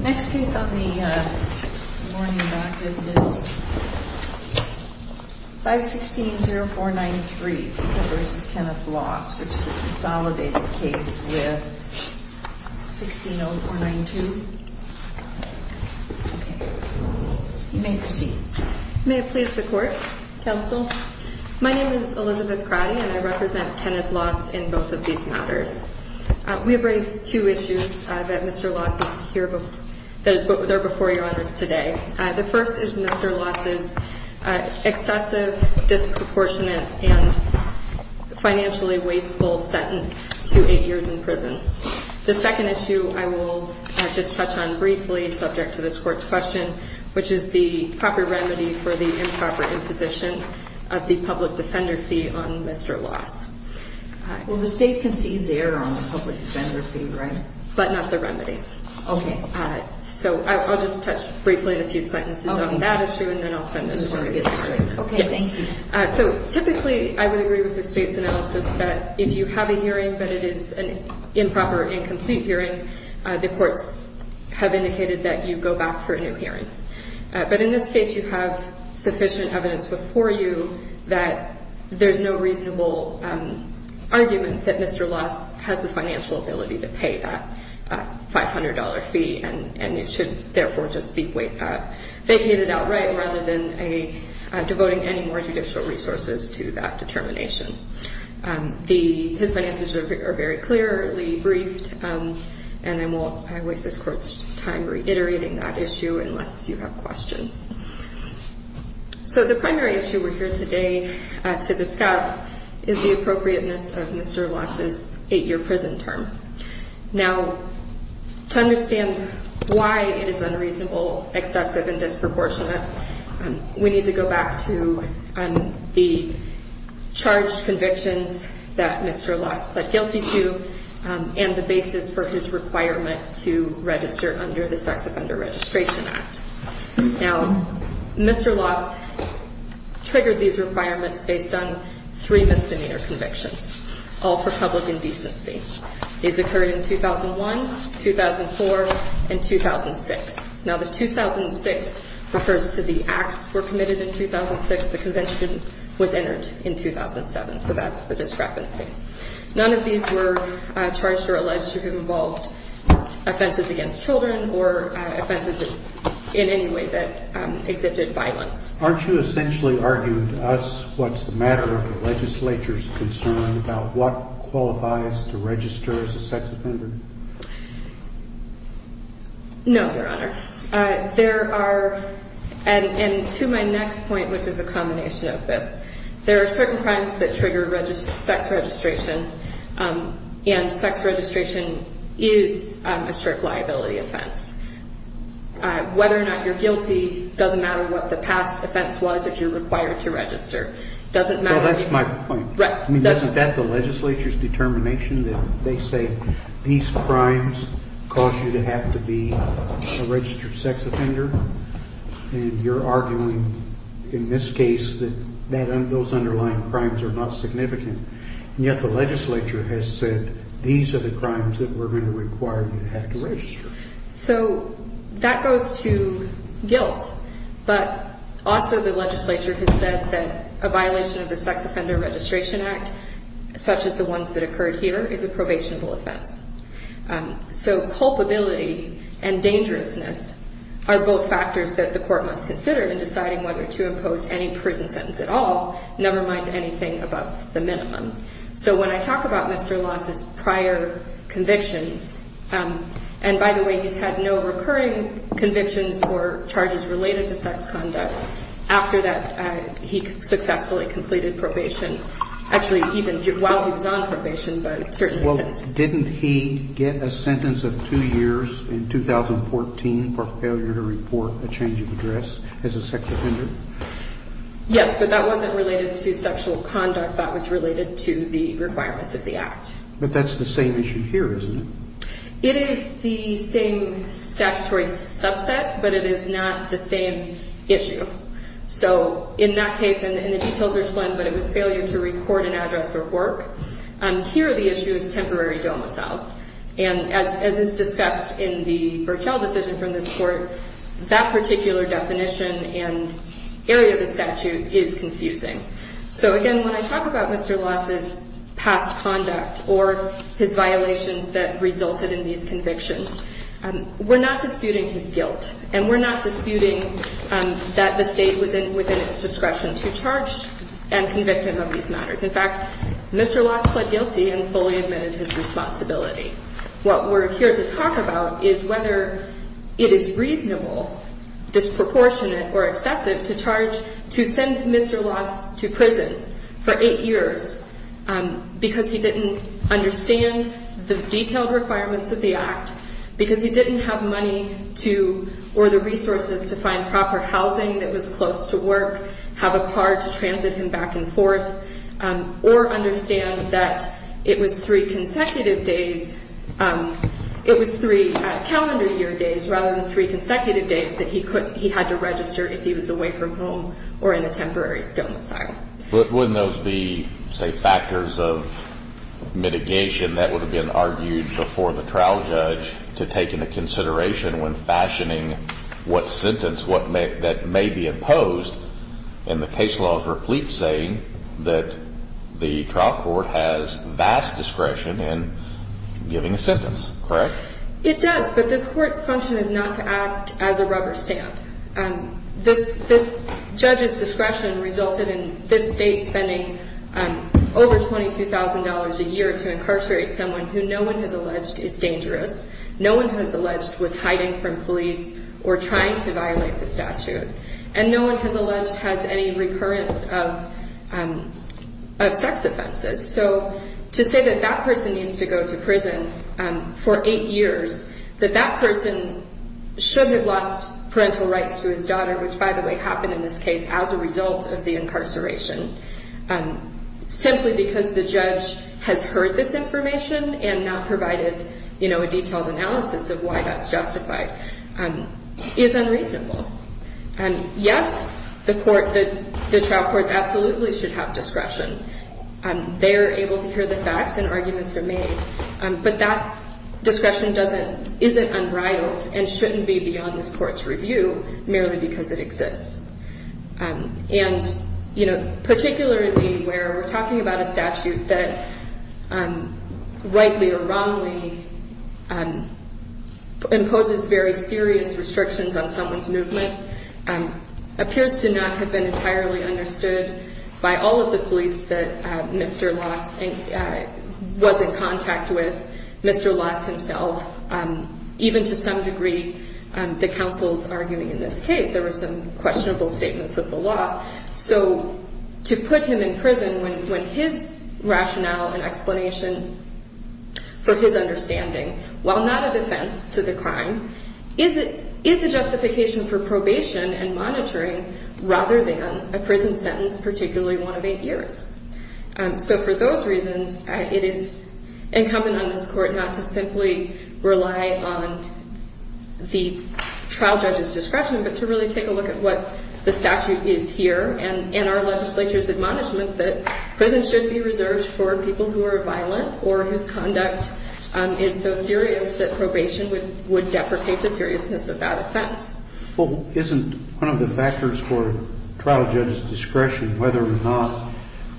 Next case on the morning bracket is 516-0493, Peter v. Kenneth Loss, which is a consolidated case with 16-0492. You may proceed. May it please the Court, Counsel. My name is Elizabeth Crowdy and I represent Kenneth Loss in both of these matters. We have raised two issues that Mr. Loss is here before you on this today. The first is Mr. Loss's excessive, disproportionate, and financially wasteful sentence to eight years in prison. The second issue I will just touch on briefly, subject to this Court's question, which is the proper remedy for the improper imposition of the public defender fee on Mr. Loss. Well, the State concedes error on the public defender fee, right? But not the remedy. Okay. So I'll just touch briefly on a few sentences on that issue and then I'll spend the rest of my time. Okay, thank you. So typically I would agree with the State's analysis that if you have a hearing but it is an improper, incomplete hearing, the courts have indicated that you go back for a new hearing. But in this case you have sufficient evidence before you that there's no reasonable argument that Mr. Loss has the financial ability to pay that $500 fee and it should therefore just be vacated outright rather than devoting any more judicial resources to that determination. His finances are very clearly briefed and I won't waste this Court's time reiterating that issue unless you have questions. So the primary issue we're here today to discuss is the appropriateness of Mr. Loss' eight-year prison term. Now, to understand why it is unreasonable, excessive, and disproportionate, we need to go back to the charged convictions that Mr. Loss pled guilty to and the basis for his requirement to register under the Sex Offender Registration Act. Now, Mr. Loss triggered these requirements based on three misdemeanor convictions, all for public indecency. These occurred in 2001, 2004, and 2006. Now, the 2006 refers to the acts were committed in 2006. The convention was entered in 2007, so that's the discrepancy. None of these were charged or alleged to have involved offenses against children or offenses in any way that exhibited violence. Aren't you essentially arguing to us what's the matter of the legislature's concern about what qualifies to register as a sex offender? No, Your Honor. There are, and to my next point, which is a combination of this, there are certain crimes that trigger sex registration, and sex registration is a strict liability offense. Whether or not you're guilty doesn't matter what the past offense was if you're required to register. Well, that's my point. I mean, isn't that the legislature's determination that they say these crimes cause you to have to be a registered sex offender? And you're arguing in this case that those underlying crimes are not significant, and yet the legislature has said these are the crimes that we're going to require you to have to register. So that goes to guilt, but also the legislature has said that a violation of the Sex Offender Registration Act, such as the ones that occurred here, is a probationable offense. So culpability and dangerousness are both factors that the court must consider in deciding whether to impose any prison sentence at all, never mind anything above the minimum. So when I talk about Mr. Loss' prior convictions, and by the way, he's had no recurring convictions or charges related to sex conduct. After that, he successfully completed probation, actually even while he was on probation, but certainly since. Didn't he get a sentence of two years in 2014 for failure to report a change of address as a sex offender? Yes, but that wasn't related to sexual conduct. That was related to the requirements of the Act. But that's the same issue here, isn't it? It is the same statutory subset, but it is not the same issue. So in that case, and the details are explained, but it was failure to record an address or work. Here, the issue is temporary domiciles. And as is discussed in the Burchell decision from this Court, that particular definition and area of the statute is confusing. So, again, when I talk about Mr. Loss' past conduct or his violations that resulted in these convictions, we're not disputing his guilt, and we're not disputing that the State was within its discretion to charge and convict him of these matters. In fact, Mr. Loss pled guilty and fully admitted his responsibility. What we're here to talk about is whether it is reasonable, disproportionate, or excessive to charge to send Mr. Loss to prison for eight years because he didn't understand the detailed requirements of the Act, because he didn't have money to or the resources to find proper housing that was close to work, have a car to transit him back and forth, or understand that it was three consecutive days. It was three calendar year days rather than three consecutive days that he had to register if he was away from home or in a temporary domicile. But wouldn't those be, say, factors of mitigation that would have been argued before the trial judge to take into consideration when fashioning what sentence that may be imposed in the case laws replete saying that the trial court has vast discretion in giving a sentence, correct? It does, but this Court's function is not to act as a rubber stamp. This judge's discretion resulted in this State spending over $22,000 a year to incarcerate someone who no one has alleged is dangerous, no one has alleged was hiding from police or trying to violate the statute, and no one has alleged has any recurrence of sex offenses. So to say that that person needs to go to prison for eight years, that that person should have lost parental rights to his daughter, which, by the way, happened in this case as a result of the incarceration, simply because the judge has heard this information and not provided a detailed analysis of why that's justified is unreasonable. Yes, the trial courts absolutely should have discretion. They are able to hear the facts and arguments are made, but that discretion isn't unbridled and shouldn't be beyond this Court's review merely because it exists. And, you know, particularly where we're talking about a statute that rightly or wrongly imposes very serious restrictions on someone's movement appears to not have been entirely understood by all of the police that Mr. Loss was in contact with, Mr. Loss himself, even to some degree, the counsels arguing in this case, there were some questionable statements of the law. So to put him in prison when his rationale and explanation for his understanding, while not a defense to the crime, is it is a justification for probation and monitoring rather than a prison sentence, particularly one of eight years. So for those reasons, it is incumbent on this Court not to simply rely on the trial judge's discretion, but to really take a look at what the statute is here and our legislature's admonishment that prison should be reserved for people who are violent or whose conduct is so serious that probation would deprecate the seriousness of that offense. Well, isn't one of the factors for trial judge's discretion whether or not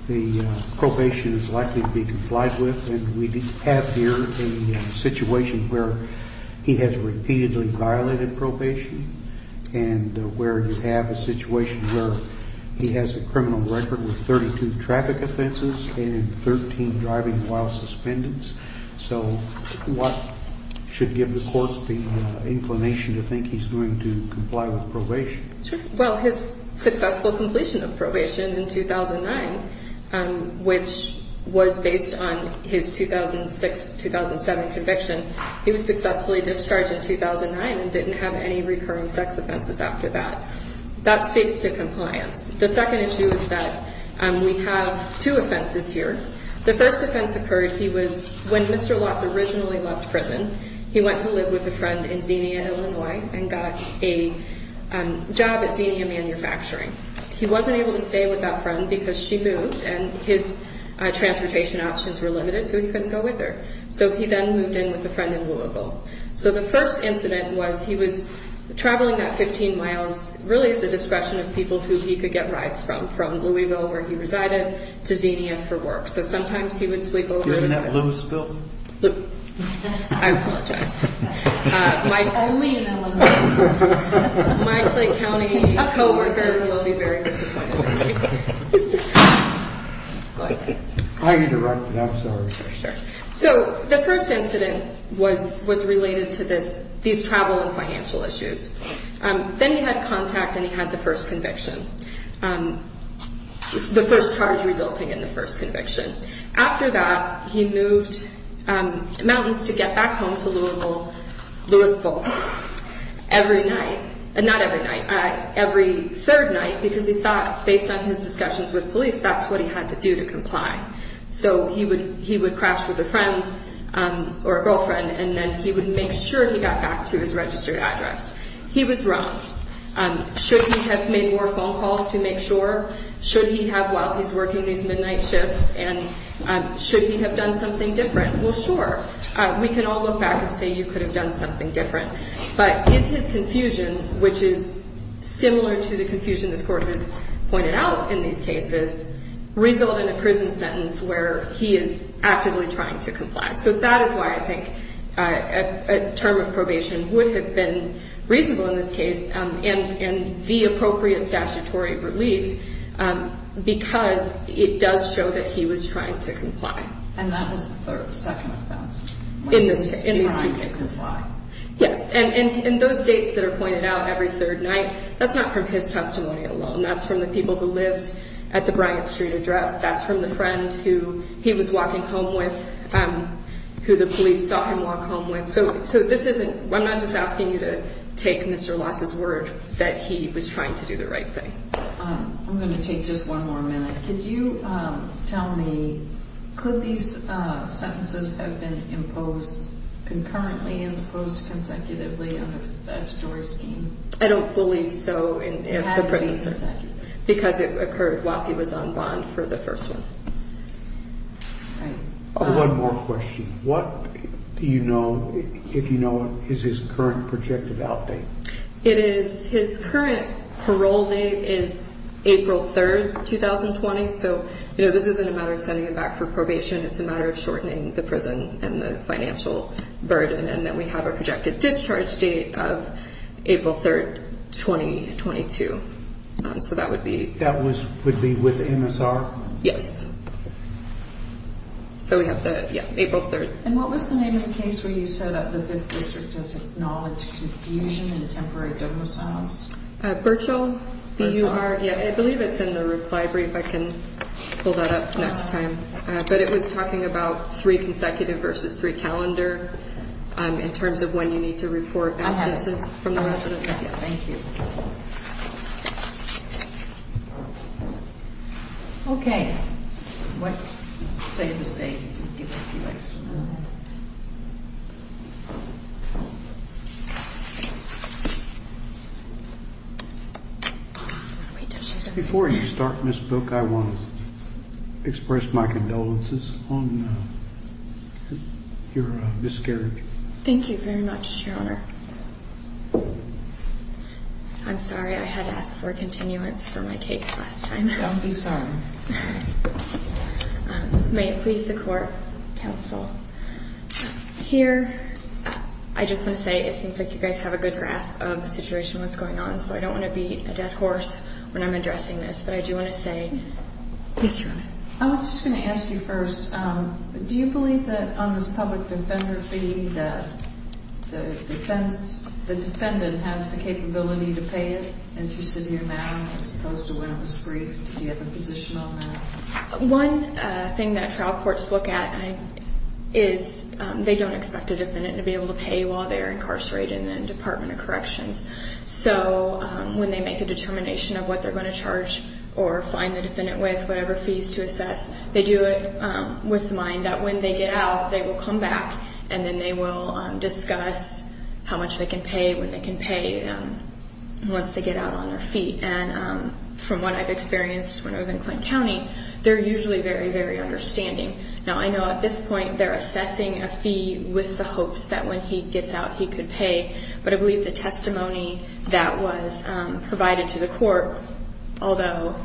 the probation is likely to be complied with? And we have here a situation where he has repeatedly violated probation and where you have a situation where he has a criminal record with 32 traffic offenses and 13 driving while suspendents. So what should give the court the inclination to think he's going to comply with probation? Well, his successful completion of probation in 2009, which was based on his 2006-2007 conviction, he was successfully discharged in 2009 and didn't have any recurring sex offenses after that. That speaks to compliance. The second issue is that we have two offenses here. The first offense occurred when Mr. Lotz originally left prison. He went to live with a friend in Xenia, Illinois, and got a job at Xenia Manufacturing. He wasn't able to stay with that friend because she moved and his transportation options were limited, so he couldn't go with her. So he then moved in with a friend in Louisville. So the first incident was he was traveling that 15 miles really at the discretion of people who he could get rides from, from Louisville where he resided to Xenia for work. So sometimes he would sleep over. Isn't that Louisville? I apologize. Only in Illinois. My Clay County co-worker will be very disappointed. I interrupted. I'm sorry. So the first incident was related to these travel and financial issues. Then he had contact and he had the first conviction, the first charge resulting in the first conviction. After that, he moved mountains to get back home to Louisville every night, not every night, every third night, because he thought, based on his discussions with police, that's what he had to do to comply. So he would crash with a friend or a girlfriend, and then he would make sure he got back to his registered address. He was wrong. Should he have made more phone calls to make sure? Should he have, while he's working these midnight shifts, and should he have done something different? Well, sure. We can all look back and say you could have done something different. But is his confusion, which is similar to the confusion this Court has pointed out in these cases, result in a prison sentence where he is actively trying to comply? So that is why I think a term of probation would have been reasonable in this case and the appropriate statutory relief because it does show that he was trying to comply. And that was the second offense, when he was trying to comply. Yes, and those dates that are pointed out every third night, that's not from his testimony alone. That's from the people who lived at the Bryant Street address. That's from the friend who he was walking home with, who the police saw him walk home with. So I'm not just asking you to take Mr. Loss' word that he was trying to do the right thing. I'm going to take just one more minute. Could you tell me, could these sentences have been imposed concurrently as opposed to consecutively under the statutory scheme? I don't believe so. Because it occurred while he was on bond for the first one. One more question. What do you know, if you know, is his current projected out date? It is, his current parole date is April 3, 2020. So, you know, this isn't a matter of sending him back for probation. It's a matter of shortening the prison and the financial burden. And then we have a projected discharge date of April 3, 2022. So that would be. That would be with MSR? Yes. So we have the, yeah, April 3. And what was the name of the case where you said that the 5th District has acknowledged confusion and temporary domiciles? Burchell. Yeah, I believe it's in the reply brief. I can pull that up next time. But it was talking about three consecutive versus three calendar in terms of when you need to report absences from the residence. Thank you. Okay. What? Save the state. Before you start, Ms. Book, I want to express my condolences on your miscarriage. Thank you very much, Your Honor. I'm sorry. I had to ask for a continuance for my case last time. Don't be sorry. May it please the court, counsel. Here, I just want to say it seems like you guys have a good grasp of the situation, what's going on. So I don't want to be a dead horse when I'm addressing this. But I do want to say. Yes, Your Honor. I was just going to ask you first. Do you believe that on this public defender fee that the defendant has the capability to pay it? Interceding amount as opposed to when it was briefed. Do you have a position on that? One thing that trial courts look at is they don't expect a defendant to be able to pay while they're incarcerated in the Department of Corrections. So when they make a determination of what they're going to charge or find the defendant with, whatever fees to assess, they do it with the mind that when they get out, they will come back, and then they will discuss how much they can pay, when they can pay, once they get out on their feet. And from what I've experienced when I was in Clinton County, they're usually very, very understanding. Now, I know at this point they're assessing a fee with the hopes that when he gets out, he could pay. But I believe the testimony that was provided to the court, although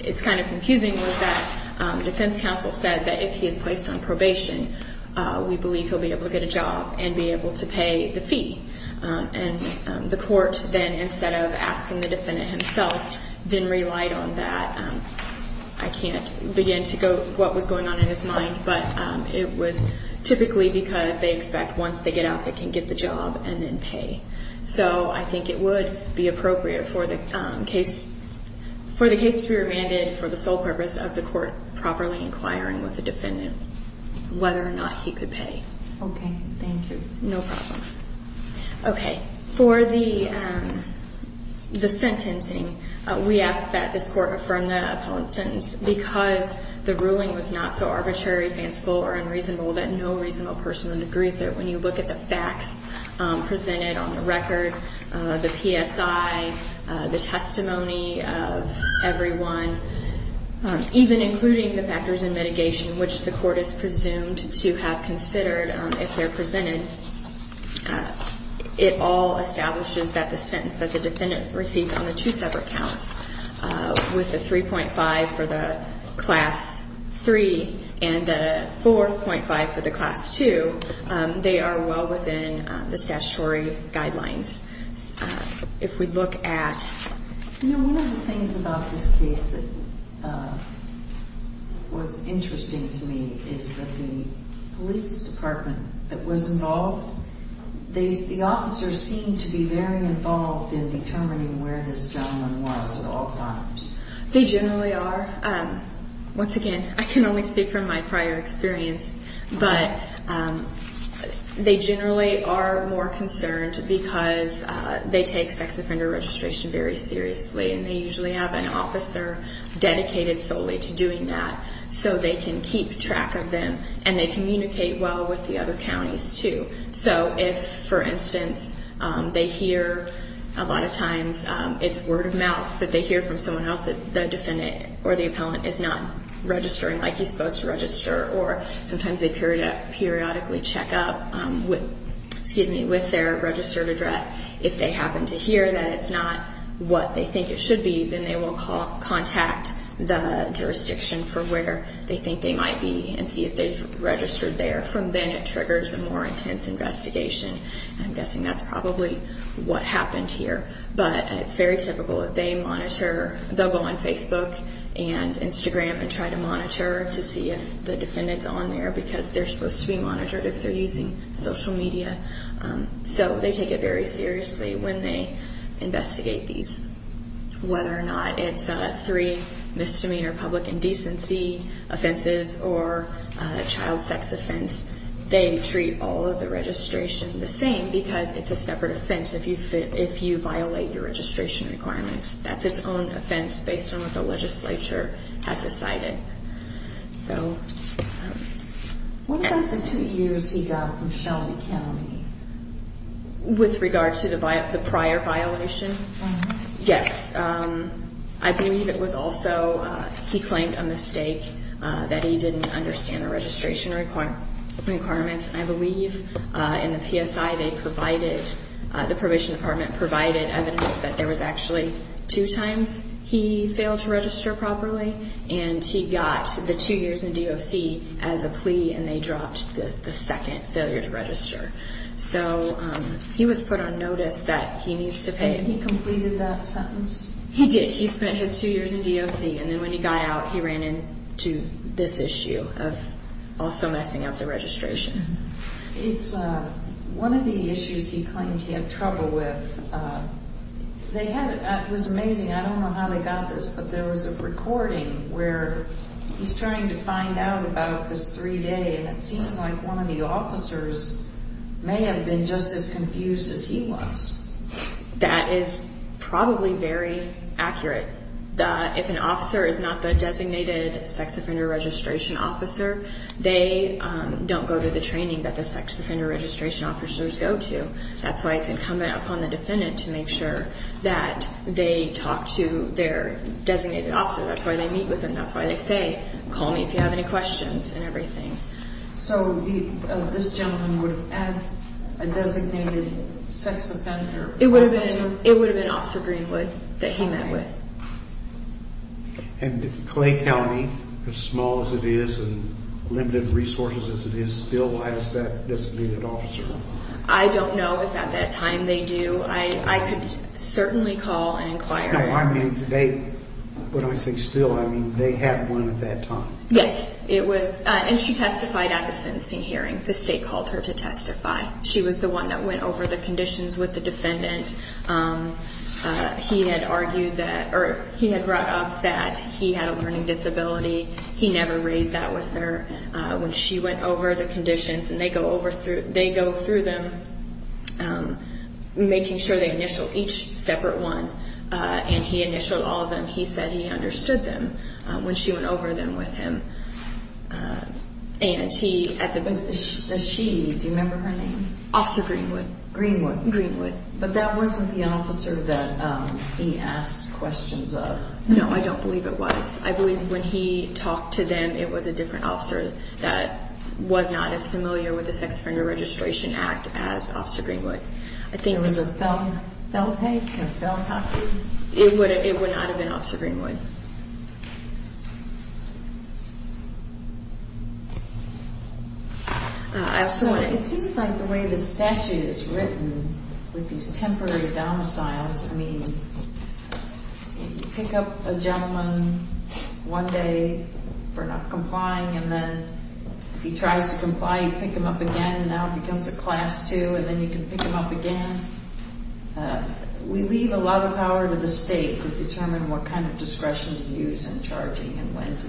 it's kind of confusing, was that the defense counsel said that if he is placed on probation, we believe he'll be able to get a job and be able to pay the fee. And the court then, instead of asking the defendant himself, then relied on that. I can't begin to go through what was going on in his mind, but it was typically because they expect once they get out, they can get the job and then pay. So I think it would be appropriate for the case to be remanded for the sole purpose of the court properly inquiring with the defendant whether or not he could pay. Okay. Thank you. No problem. Okay. For the sentencing, we ask that this court affirm the appellant's sentence because the ruling was not so arbitrary, fanciful, or unreasonable that no reasonable person would agree with it. When you look at the facts presented on the record, the PSI, the testimony of everyone, even including the factors in mitigation which the court is presumed to have considered if they're presented, it all establishes that the sentence that the defendant received on the two separate counts with the 3.5 for the Class 3 and the 4.5 for the Class 2, they are well within the statutory guidelines. If we look at... You know, one of the things about this case that was interesting to me is that the police department that was involved, the officers seemed to be very involved in determining where this gentleman was at all times. They generally are. Once again, I can only speak from my prior experience, but they generally are more concerned because they take sex offender registration very seriously and they usually have an officer dedicated solely to doing that so they can keep track of them and they communicate well with the other counties too. So if, for instance, they hear a lot of times it's word of mouth that they hear from someone else that the defendant or the appellant is not registering like he's supposed to register or sometimes they periodically check up with their registered address. If they happen to hear that it's not what they think it should be, then they will contact the jurisdiction for where they think they might be and see if they've registered there. From then it triggers a more intense investigation. I'm guessing that's probably what happened here. But it's very typical that they monitor. They'll go on Facebook and Instagram and try to monitor to see if the defendant's on there because they're supposed to be monitored if they're using social media. So they take it very seriously when they investigate these. Whether or not it's three misdemeanor public indecency offenses or a child sex offense, they treat all of the registration the same because it's a separate offense if you violate your registration requirements. That's its own offense based on what the legislature has decided. So what about the two years he got from Shelby County? With regard to the prior violation? Yes. I believe it was also he claimed a mistake that he didn't understand the registration requirements. I believe in the PSI they provided, the probation department provided evidence that there was actually two times he failed to register properly and he got the two years in DOC as a plea and they dropped the second failure to register. So he was put on notice that he needs to pay. And he completed that sentence? He did. He spent his two years in DOC and then when he got out he ran into this issue of also messing up the registration. It's one of the issues he claimed he had trouble with. It was amazing. I don't know how they got this, but there was a recording where he's trying to find out about this three-day and it seems like one of the officers may have been just as confused as he was. That is probably very accurate. If an officer is not the designated sex offender registration officer, they don't go to the training that the sex offender registration officers go to. That's why they come upon the defendant to make sure that they talk to their designated officer. That's why they meet with him. That's why they say, call me if you have any questions and everything. So this gentleman would have had a designated sex offender? It would have been Officer Greenwood that he met with. And Clay County, as small as it is and limited resources as it is still, why does that designated officer? I don't know if at that time they do. I could certainly call and inquire. No, I mean they, when I say still, I mean they had one at that time. Yes. And she testified at the sentencing hearing. The state called her to testify. She was the one that went over the conditions with the defendant. He had brought up that he had a learning disability. He never raised that with her. When she went over the conditions and they go through them, making sure they initial each separate one, and he initialed all of them, he said he understood them when she went over them with him. And he at the beginning. She, do you remember her name? Officer Greenwood. Greenwood. Greenwood. But that wasn't the officer that he asked questions of? No, I don't believe it was. I believe when he talked to them, it was a different officer that was not as familiar with the Sex Offender Registration Act as Officer Greenwood. It was a felon? Felon? Felon officer? It would not have been Officer Greenwood. I also want to. It seems like the way the statute is written with these temporary domiciles, I mean, you pick up a gentleman one day for not complying and then he tries to comply, you pick him up again, and now it becomes a class two and then you can pick him up again. We leave a lot of power to the state to determine what kind of discretion to use in charging and when to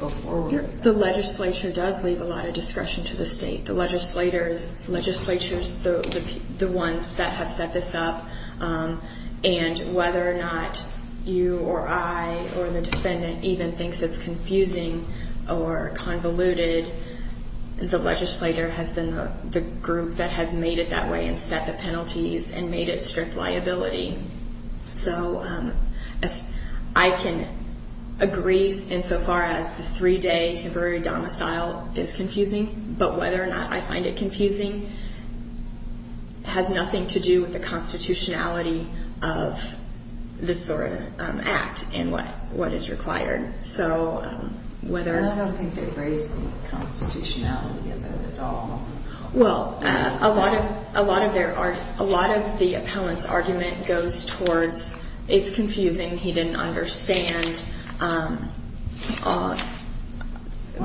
go forward. The legislature does leave a lot of discretion to the state. The legislature is the ones that have set this up, and whether or not you or I or the defendant even thinks it's confusing or convoluted, the legislator has been the group that has made it that way and set the penalties and made it strict liability. So I can agree insofar as the three-day temporary domicile is confusing, but whether or not I find it confusing has nothing to do with the constitutionality of this sort of act and what is required. And I don't think they raise the constitutionality of it at all. Well, a lot of the appellant's argument goes towards it's confusing, he didn't understand. Well,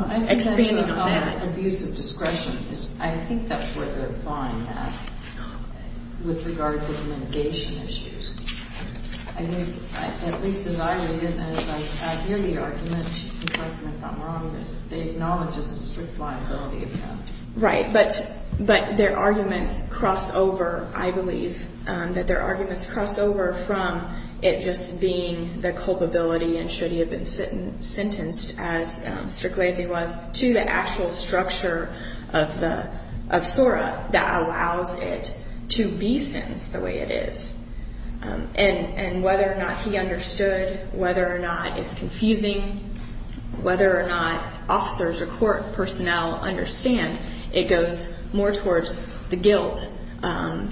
I think that's called abusive discretion. I think that's where they're fine with regard to mitigation issues. I think, at least as I read it and as I hear the argument, in front of me if I'm wrong, that they acknowledge it's a strict liability account. Right. But their arguments cross over, I believe, and should he have been sentenced, as Mr. Glazey was, to the actual structure of SORA that allows it to be sentenced the way it is. And whether or not he understood, whether or not it's confusing, whether or not officers or court personnel understand, it goes more towards the guilt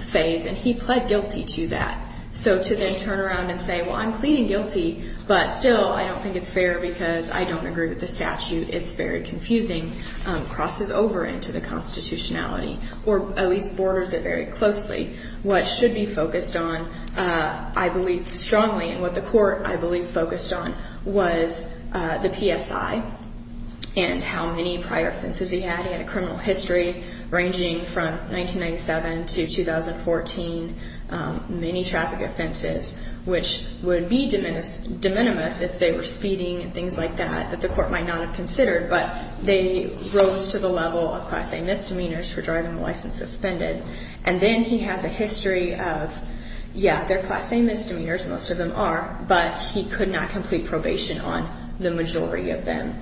phase. And he pled guilty to that. So to then turn around and say, well, I'm pleading guilty, but still I don't think it's fair because I don't agree with the statute, it's very confusing, crosses over into the constitutionality, or at least borders it very closely. What should be focused on, I believe strongly, and what the court, I believe, focused on was the PSI and how many prior offenses he had. He had a criminal history ranging from 1997 to 2014, many traffic offenses, which would be de minimis if they were speeding and things like that, that the court might not have considered. But they rose to the level of class A misdemeanors for driving the license suspended. And then he has a history of, yeah, they're class A misdemeanors, most of them are, but he could not complete probation on the majority of them.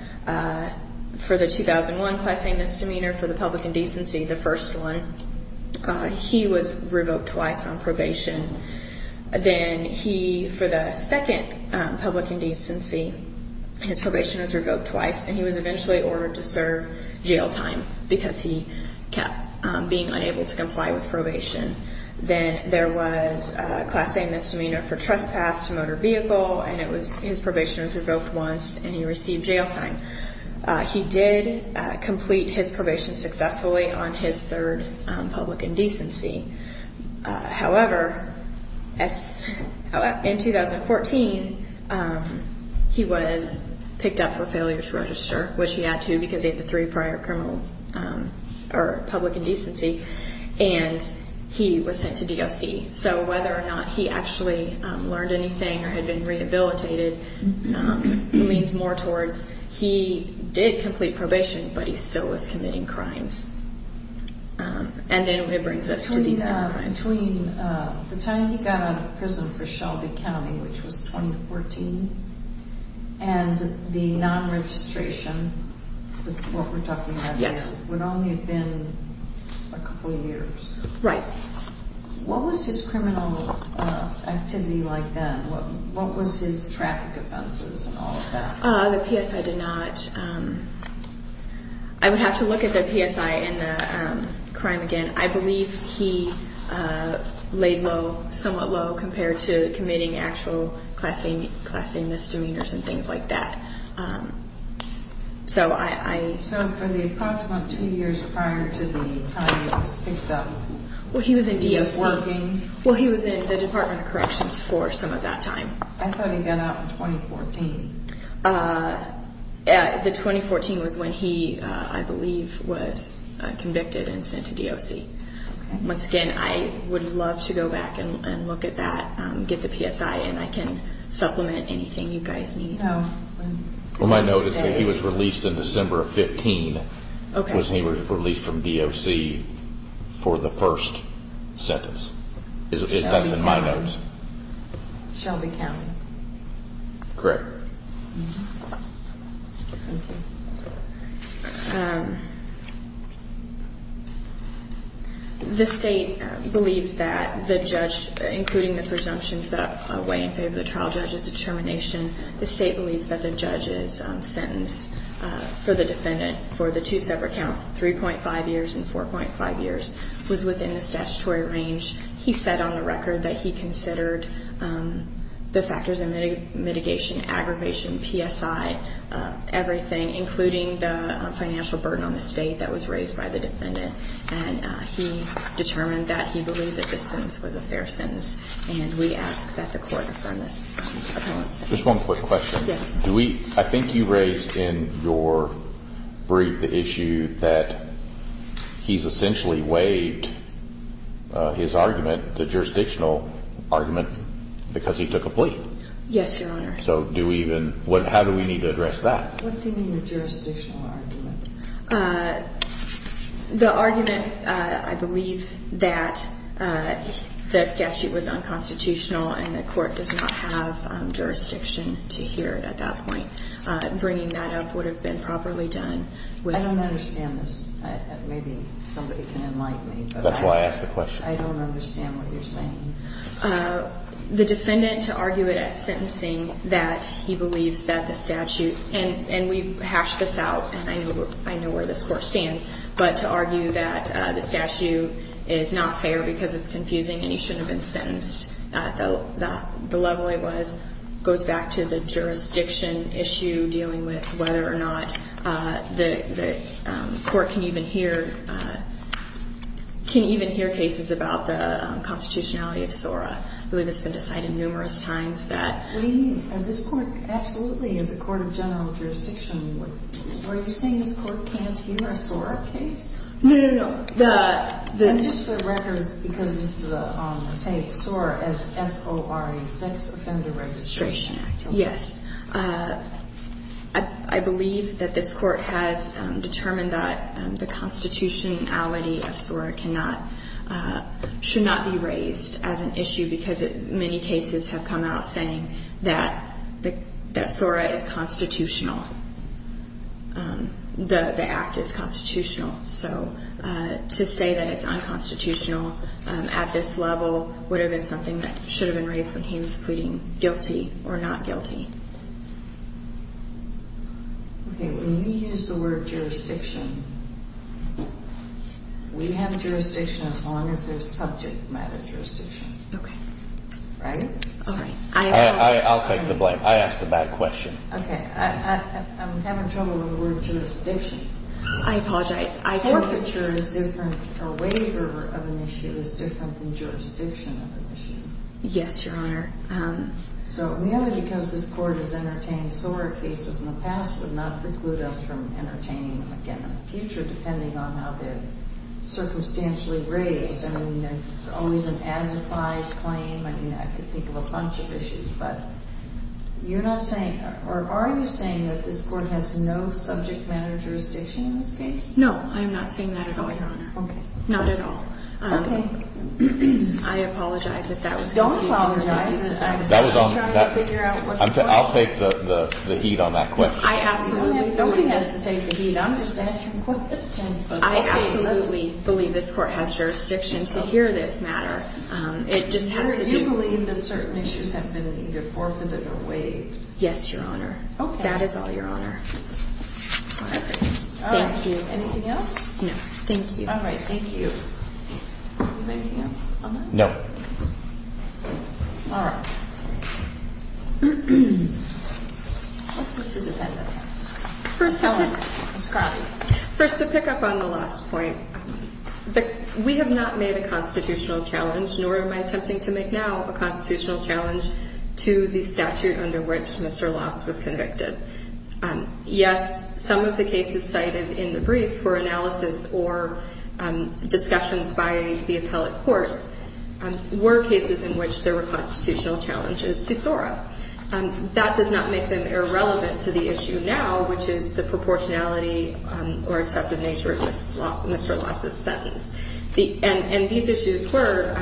For the 2001 class A misdemeanor, for the public indecency, the first one, he was revoked twice on probation. Then he, for the second public indecency, his probation was revoked twice and he was eventually ordered to serve jail time because he kept being unable to comply with probation. Then there was a class A misdemeanor for trespass to motor vehicle and his probation was revoked once and he received jail time. He did complete his probation successfully on his third public indecency. However, in 2014, he was picked up for failure to register, which he had to because he had the three prior public indecency, and he was sent to DOC. So whether or not he actually learned anything or had been rehabilitated means more towards he did complete probation, but he still was committing crimes. And then it brings us to these other crimes. Between the time he got out of prison for Shelby County, which was 2014, and the non-registration, what we're talking about here, would only have been a couple of years. Right. What was his criminal activity like then? What was his traffic offenses and all of that? The PSI did not. I would have to look at the PSI and the crime again. I believe he laid low, somewhat low, compared to committing actual class A misdemeanors and things like that. So for the approximate two years prior to the time he was picked up, he was working? Well, he was in the Department of Corrections for some of that time. I thought he got out in 2014. The 2014 was when he, I believe, was convicted and sent to DOC. Once again, I would love to go back and look at that, get the PSI, and I can supplement anything you guys need. Well, my note is that he was released in December of 15 when he was released from DOC for the first sentence. That's in my notes. Shelby County. Correct. The state believes that the judge, including the presumptions that weigh in favor of the trial judge's determination, the state believes that the judge's sentence for the defendant, for the two separate counts, 3.5 years and 4.5 years, was within the statutory range. He said on the record that he considered the factors of mitigation, aggravation, PSI, everything, including the financial burden on the state that was raised by the defendant. And he determined that he believed that this sentence was a fair sentence, and we ask that the court affirm this. Just one quick question. Yes. I think you raised in your brief the issue that he's essentially waived his argument, the jurisdictional argument, because he took a plea. Yes, Your Honor. So how do we need to address that? What do you mean the jurisdictional argument? The argument, I believe, that the statute was unconstitutional and the court does not have jurisdiction to hear it at that point. Bringing that up would have been properly done. I don't understand this. Maybe somebody can enlighten me. That's why I asked the question. I don't understand what you're saying. The defendant, to argue it at sentencing, that he believes that the statute, and we've hashed this out, and I know where this court stands, but to argue that the statute is not fair because it's confusing and he shouldn't have been sentenced at the level it was, goes back to the jurisdiction issue, dealing with whether or not the court can even hear cases about the constitutionality of SORA. I believe it's been decided numerous times that. What do you mean? This court absolutely is a court of general jurisdiction. Are you saying this court can't hear a SORA case? No, no, no. Just for the record, because this is on the tape, SORA is S-O-R-A, Sex Offender Registration Act. Yes. I believe that this court has determined that the constitutionality of SORA should not be raised as an issue because many cases have come out saying that SORA is constitutional, the act is constitutional. So to say that it's unconstitutional at this level would have been something that should have been raised when he was pleading guilty or not guilty. Okay, when you use the word jurisdiction, we have jurisdiction as long as there's subject matter jurisdiction. Okay. Right? All right. I apologize. I'll take the blame. I asked a bad question. Okay. I'm having trouble with the word jurisdiction. I apologize. I don't know. Court procedure is different. A waiver of an issue is different than jurisdiction of an issue. Yes, Your Honor. So merely because this court is entertaining SORA cases in the past would not preclude us from entertaining them again in the future depending on how they're circumstantially raised. I mean, it's always an as-implied claim. I mean, I could think of a bunch of issues, but you're not saying, or are you saying that this court has no subject matter jurisdiction in this case? No, I am not seeing that at all, Your Honor. Okay. Not at all. Okay. I apologize if that was confusing. Don't apologize. I'm just trying to figure out what's going on. I'll take the heat on that question. I absolutely believe this court has jurisdiction to hear this matter. It just has to be. Do you believe that certain issues have been either forfeited or waived? Yes, Your Honor. Okay. That is all, Your Honor. All right. Thank you. All right. Anything else? No. Thank you. All right. Thank you. Anything else on that? No. All right. What does the defendant have to say? Ms. Crowley. First, to pick up on the last point, we have not made a constitutional challenge, nor am I attempting to make now a constitutional challenge to the statute under which Mr. Loss was convicted. Yes, some of the cases cited in the brief for analysis or discussions by the appellate courts were cases in which there were constitutional challenges to SORA. That does not make them irrelevant to the issue now, which is the proportionality or excessive nature of Mr. Loss's sentence. And these issues were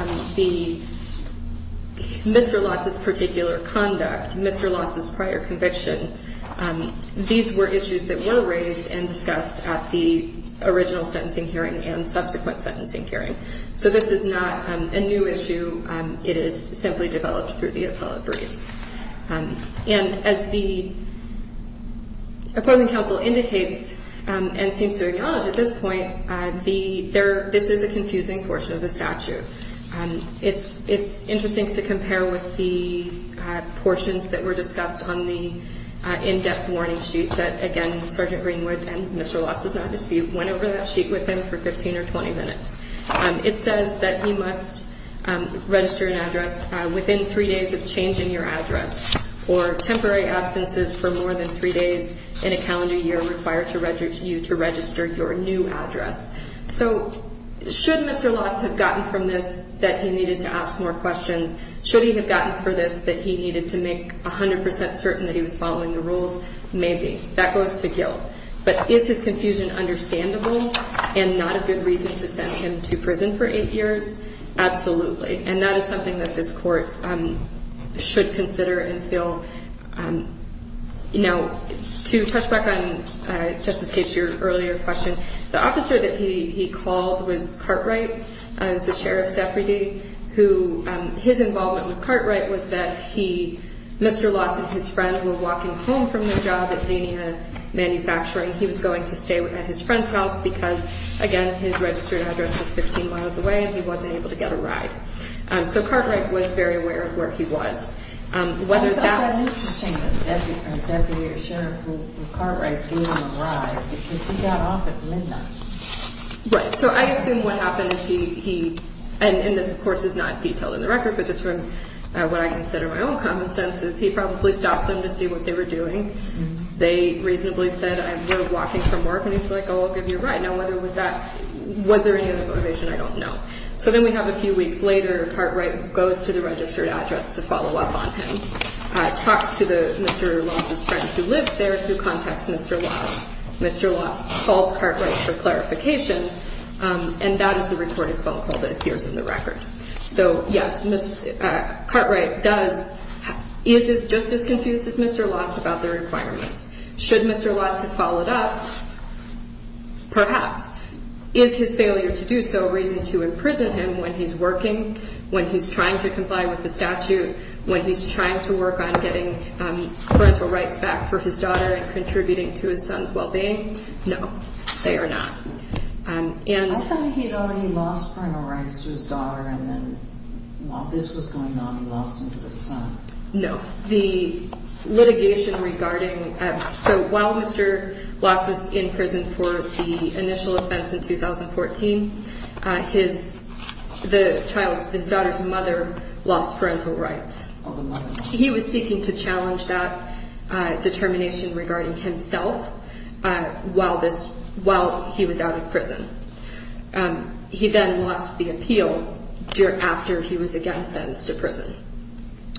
Mr. Loss's particular conduct, Mr. Loss's prior conviction. These were issues that were raised and discussed at the original sentencing hearing and subsequent sentencing hearing. So this is not a new issue. It is simply developed through the appellate briefs. And as the appellate counsel indicates and seems to acknowledge at this point, this is a confusing portion of the statute. It's interesting to compare with the portions that were discussed on the in-depth warning sheet that, again, Sergeant Greenwood and Mr. Loss went over that sheet with him for 15 or 20 minutes. It says that you must register an address within three days of changing your address or temporary absences for more than three days in a calendar year require you to register your new address. So should Mr. Loss have gotten from this that he needed to ask more questions? Should he have gotten from this that he needed to make 100 percent certain that he was following the rules? Maybe. That goes to guilt. But is his confusion understandable and not a good reason to send him to prison for eight years? Absolutely. And that is something that this Court should consider and feel. Now, to touch back on, Justice Capes, your earlier question, the officer that he called was Cartwright. He was the sheriff's deputy. His involvement with Cartwright was that he, Mr. Loss and his friend were walking home from their job at Xenia Manufacturing. He was going to stay at his friend's house because, again, his registered address was 15 miles away and he wasn't able to get a ride. So Cartwright was very aware of where he was. I thought that was interesting, the deputy or sheriff who Cartwright gave him a ride because he got off at midnight. So I assume what happened is he, and this, of course, is not detailed in the record, but just from what I consider my own common sense, is he probably stopped them to see what they were doing. They reasonably said, we're walking from work. And he's like, oh, I'll give you a ride. Now, whether it was that, was there any other motivation, I don't know. So then we have a few weeks later, Cartwright goes to the registered address to follow up on him, talks to Mr. Loss' friend who lives there, who contacts Mr. Loss. Mr. Loss calls Cartwright for clarification. And that is the recorded phone call that appears in the record. So, yes, Cartwright does, is just as confused as Mr. Loss about the requirements. Should Mr. Loss have followed up? Perhaps. Is his failure to do so a reason to imprison him when he's working, when he's trying to comply with the statute, when he's trying to work on getting parental rights back for his daughter and contributing to his son's well-being? No, they are not. I thought he had already lost parental rights to his daughter, and then while this was going on, he lost them to his son. No. The litigation regarding, so while Mr. Loss was in prison for the initial offense in 2014, his daughter's mother lost parental rights. Oh, the mother. He was seeking to challenge that determination regarding himself while he was out of prison. He then lost the appeal after he was again sentenced to prison.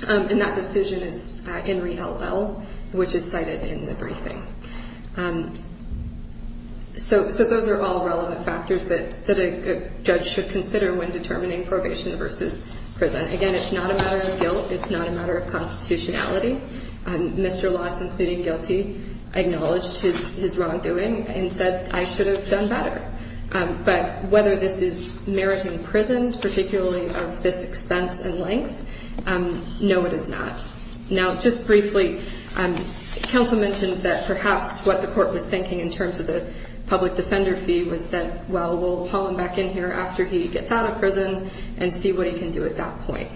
And that decision is in reheld L, which is cited in the briefing. So those are all relevant factors that a judge should consider when determining probation versus prison. Again, it's not a matter of guilt. It's not a matter of constitutionality. Mr. Loss, in pleading guilty, acknowledged his wrongdoing and said, I should have done better. But whether this is meriting prison, particularly of this expense and length, no, it is not. Now, just briefly, counsel mentioned that perhaps what the court was thinking in terms of the public defender fee was that, well, we'll haul him back in here after he gets out of prison and see what he can do at that point.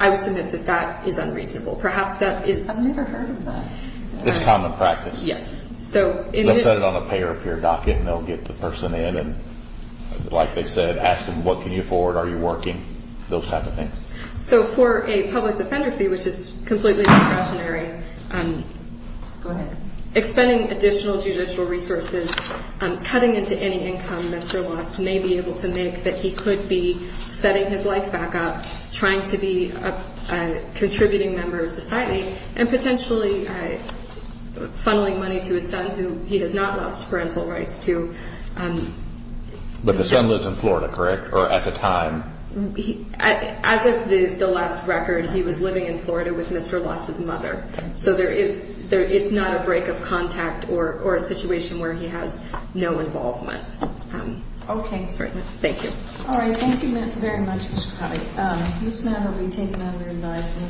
I would submit that that is unreasonable. Perhaps that is. I've never heard of that. It's common practice. Yes. So in this. They'll set it on a pay or appear docket and they'll get the person in and, like they said, ask them, what can you afford? Are you working? Those type of things. So for a public defender fee, which is completely discretionary. Go ahead. Expending additional judicial resources, cutting into any income, Mr. Loss may be able to make that he could be trying to be a contributing member of society and potentially funneling money to his son, who he has not lost parental rights to. But the son lives in Florida, correct, or at the time? As of the last record, he was living in Florida with Mr. Loss's mother. So it's not a break of contact or a situation where he has no involvement. Okay. Thank you. All right. Thank you very much, Mr. Coddy. This matter will be taken under advisory.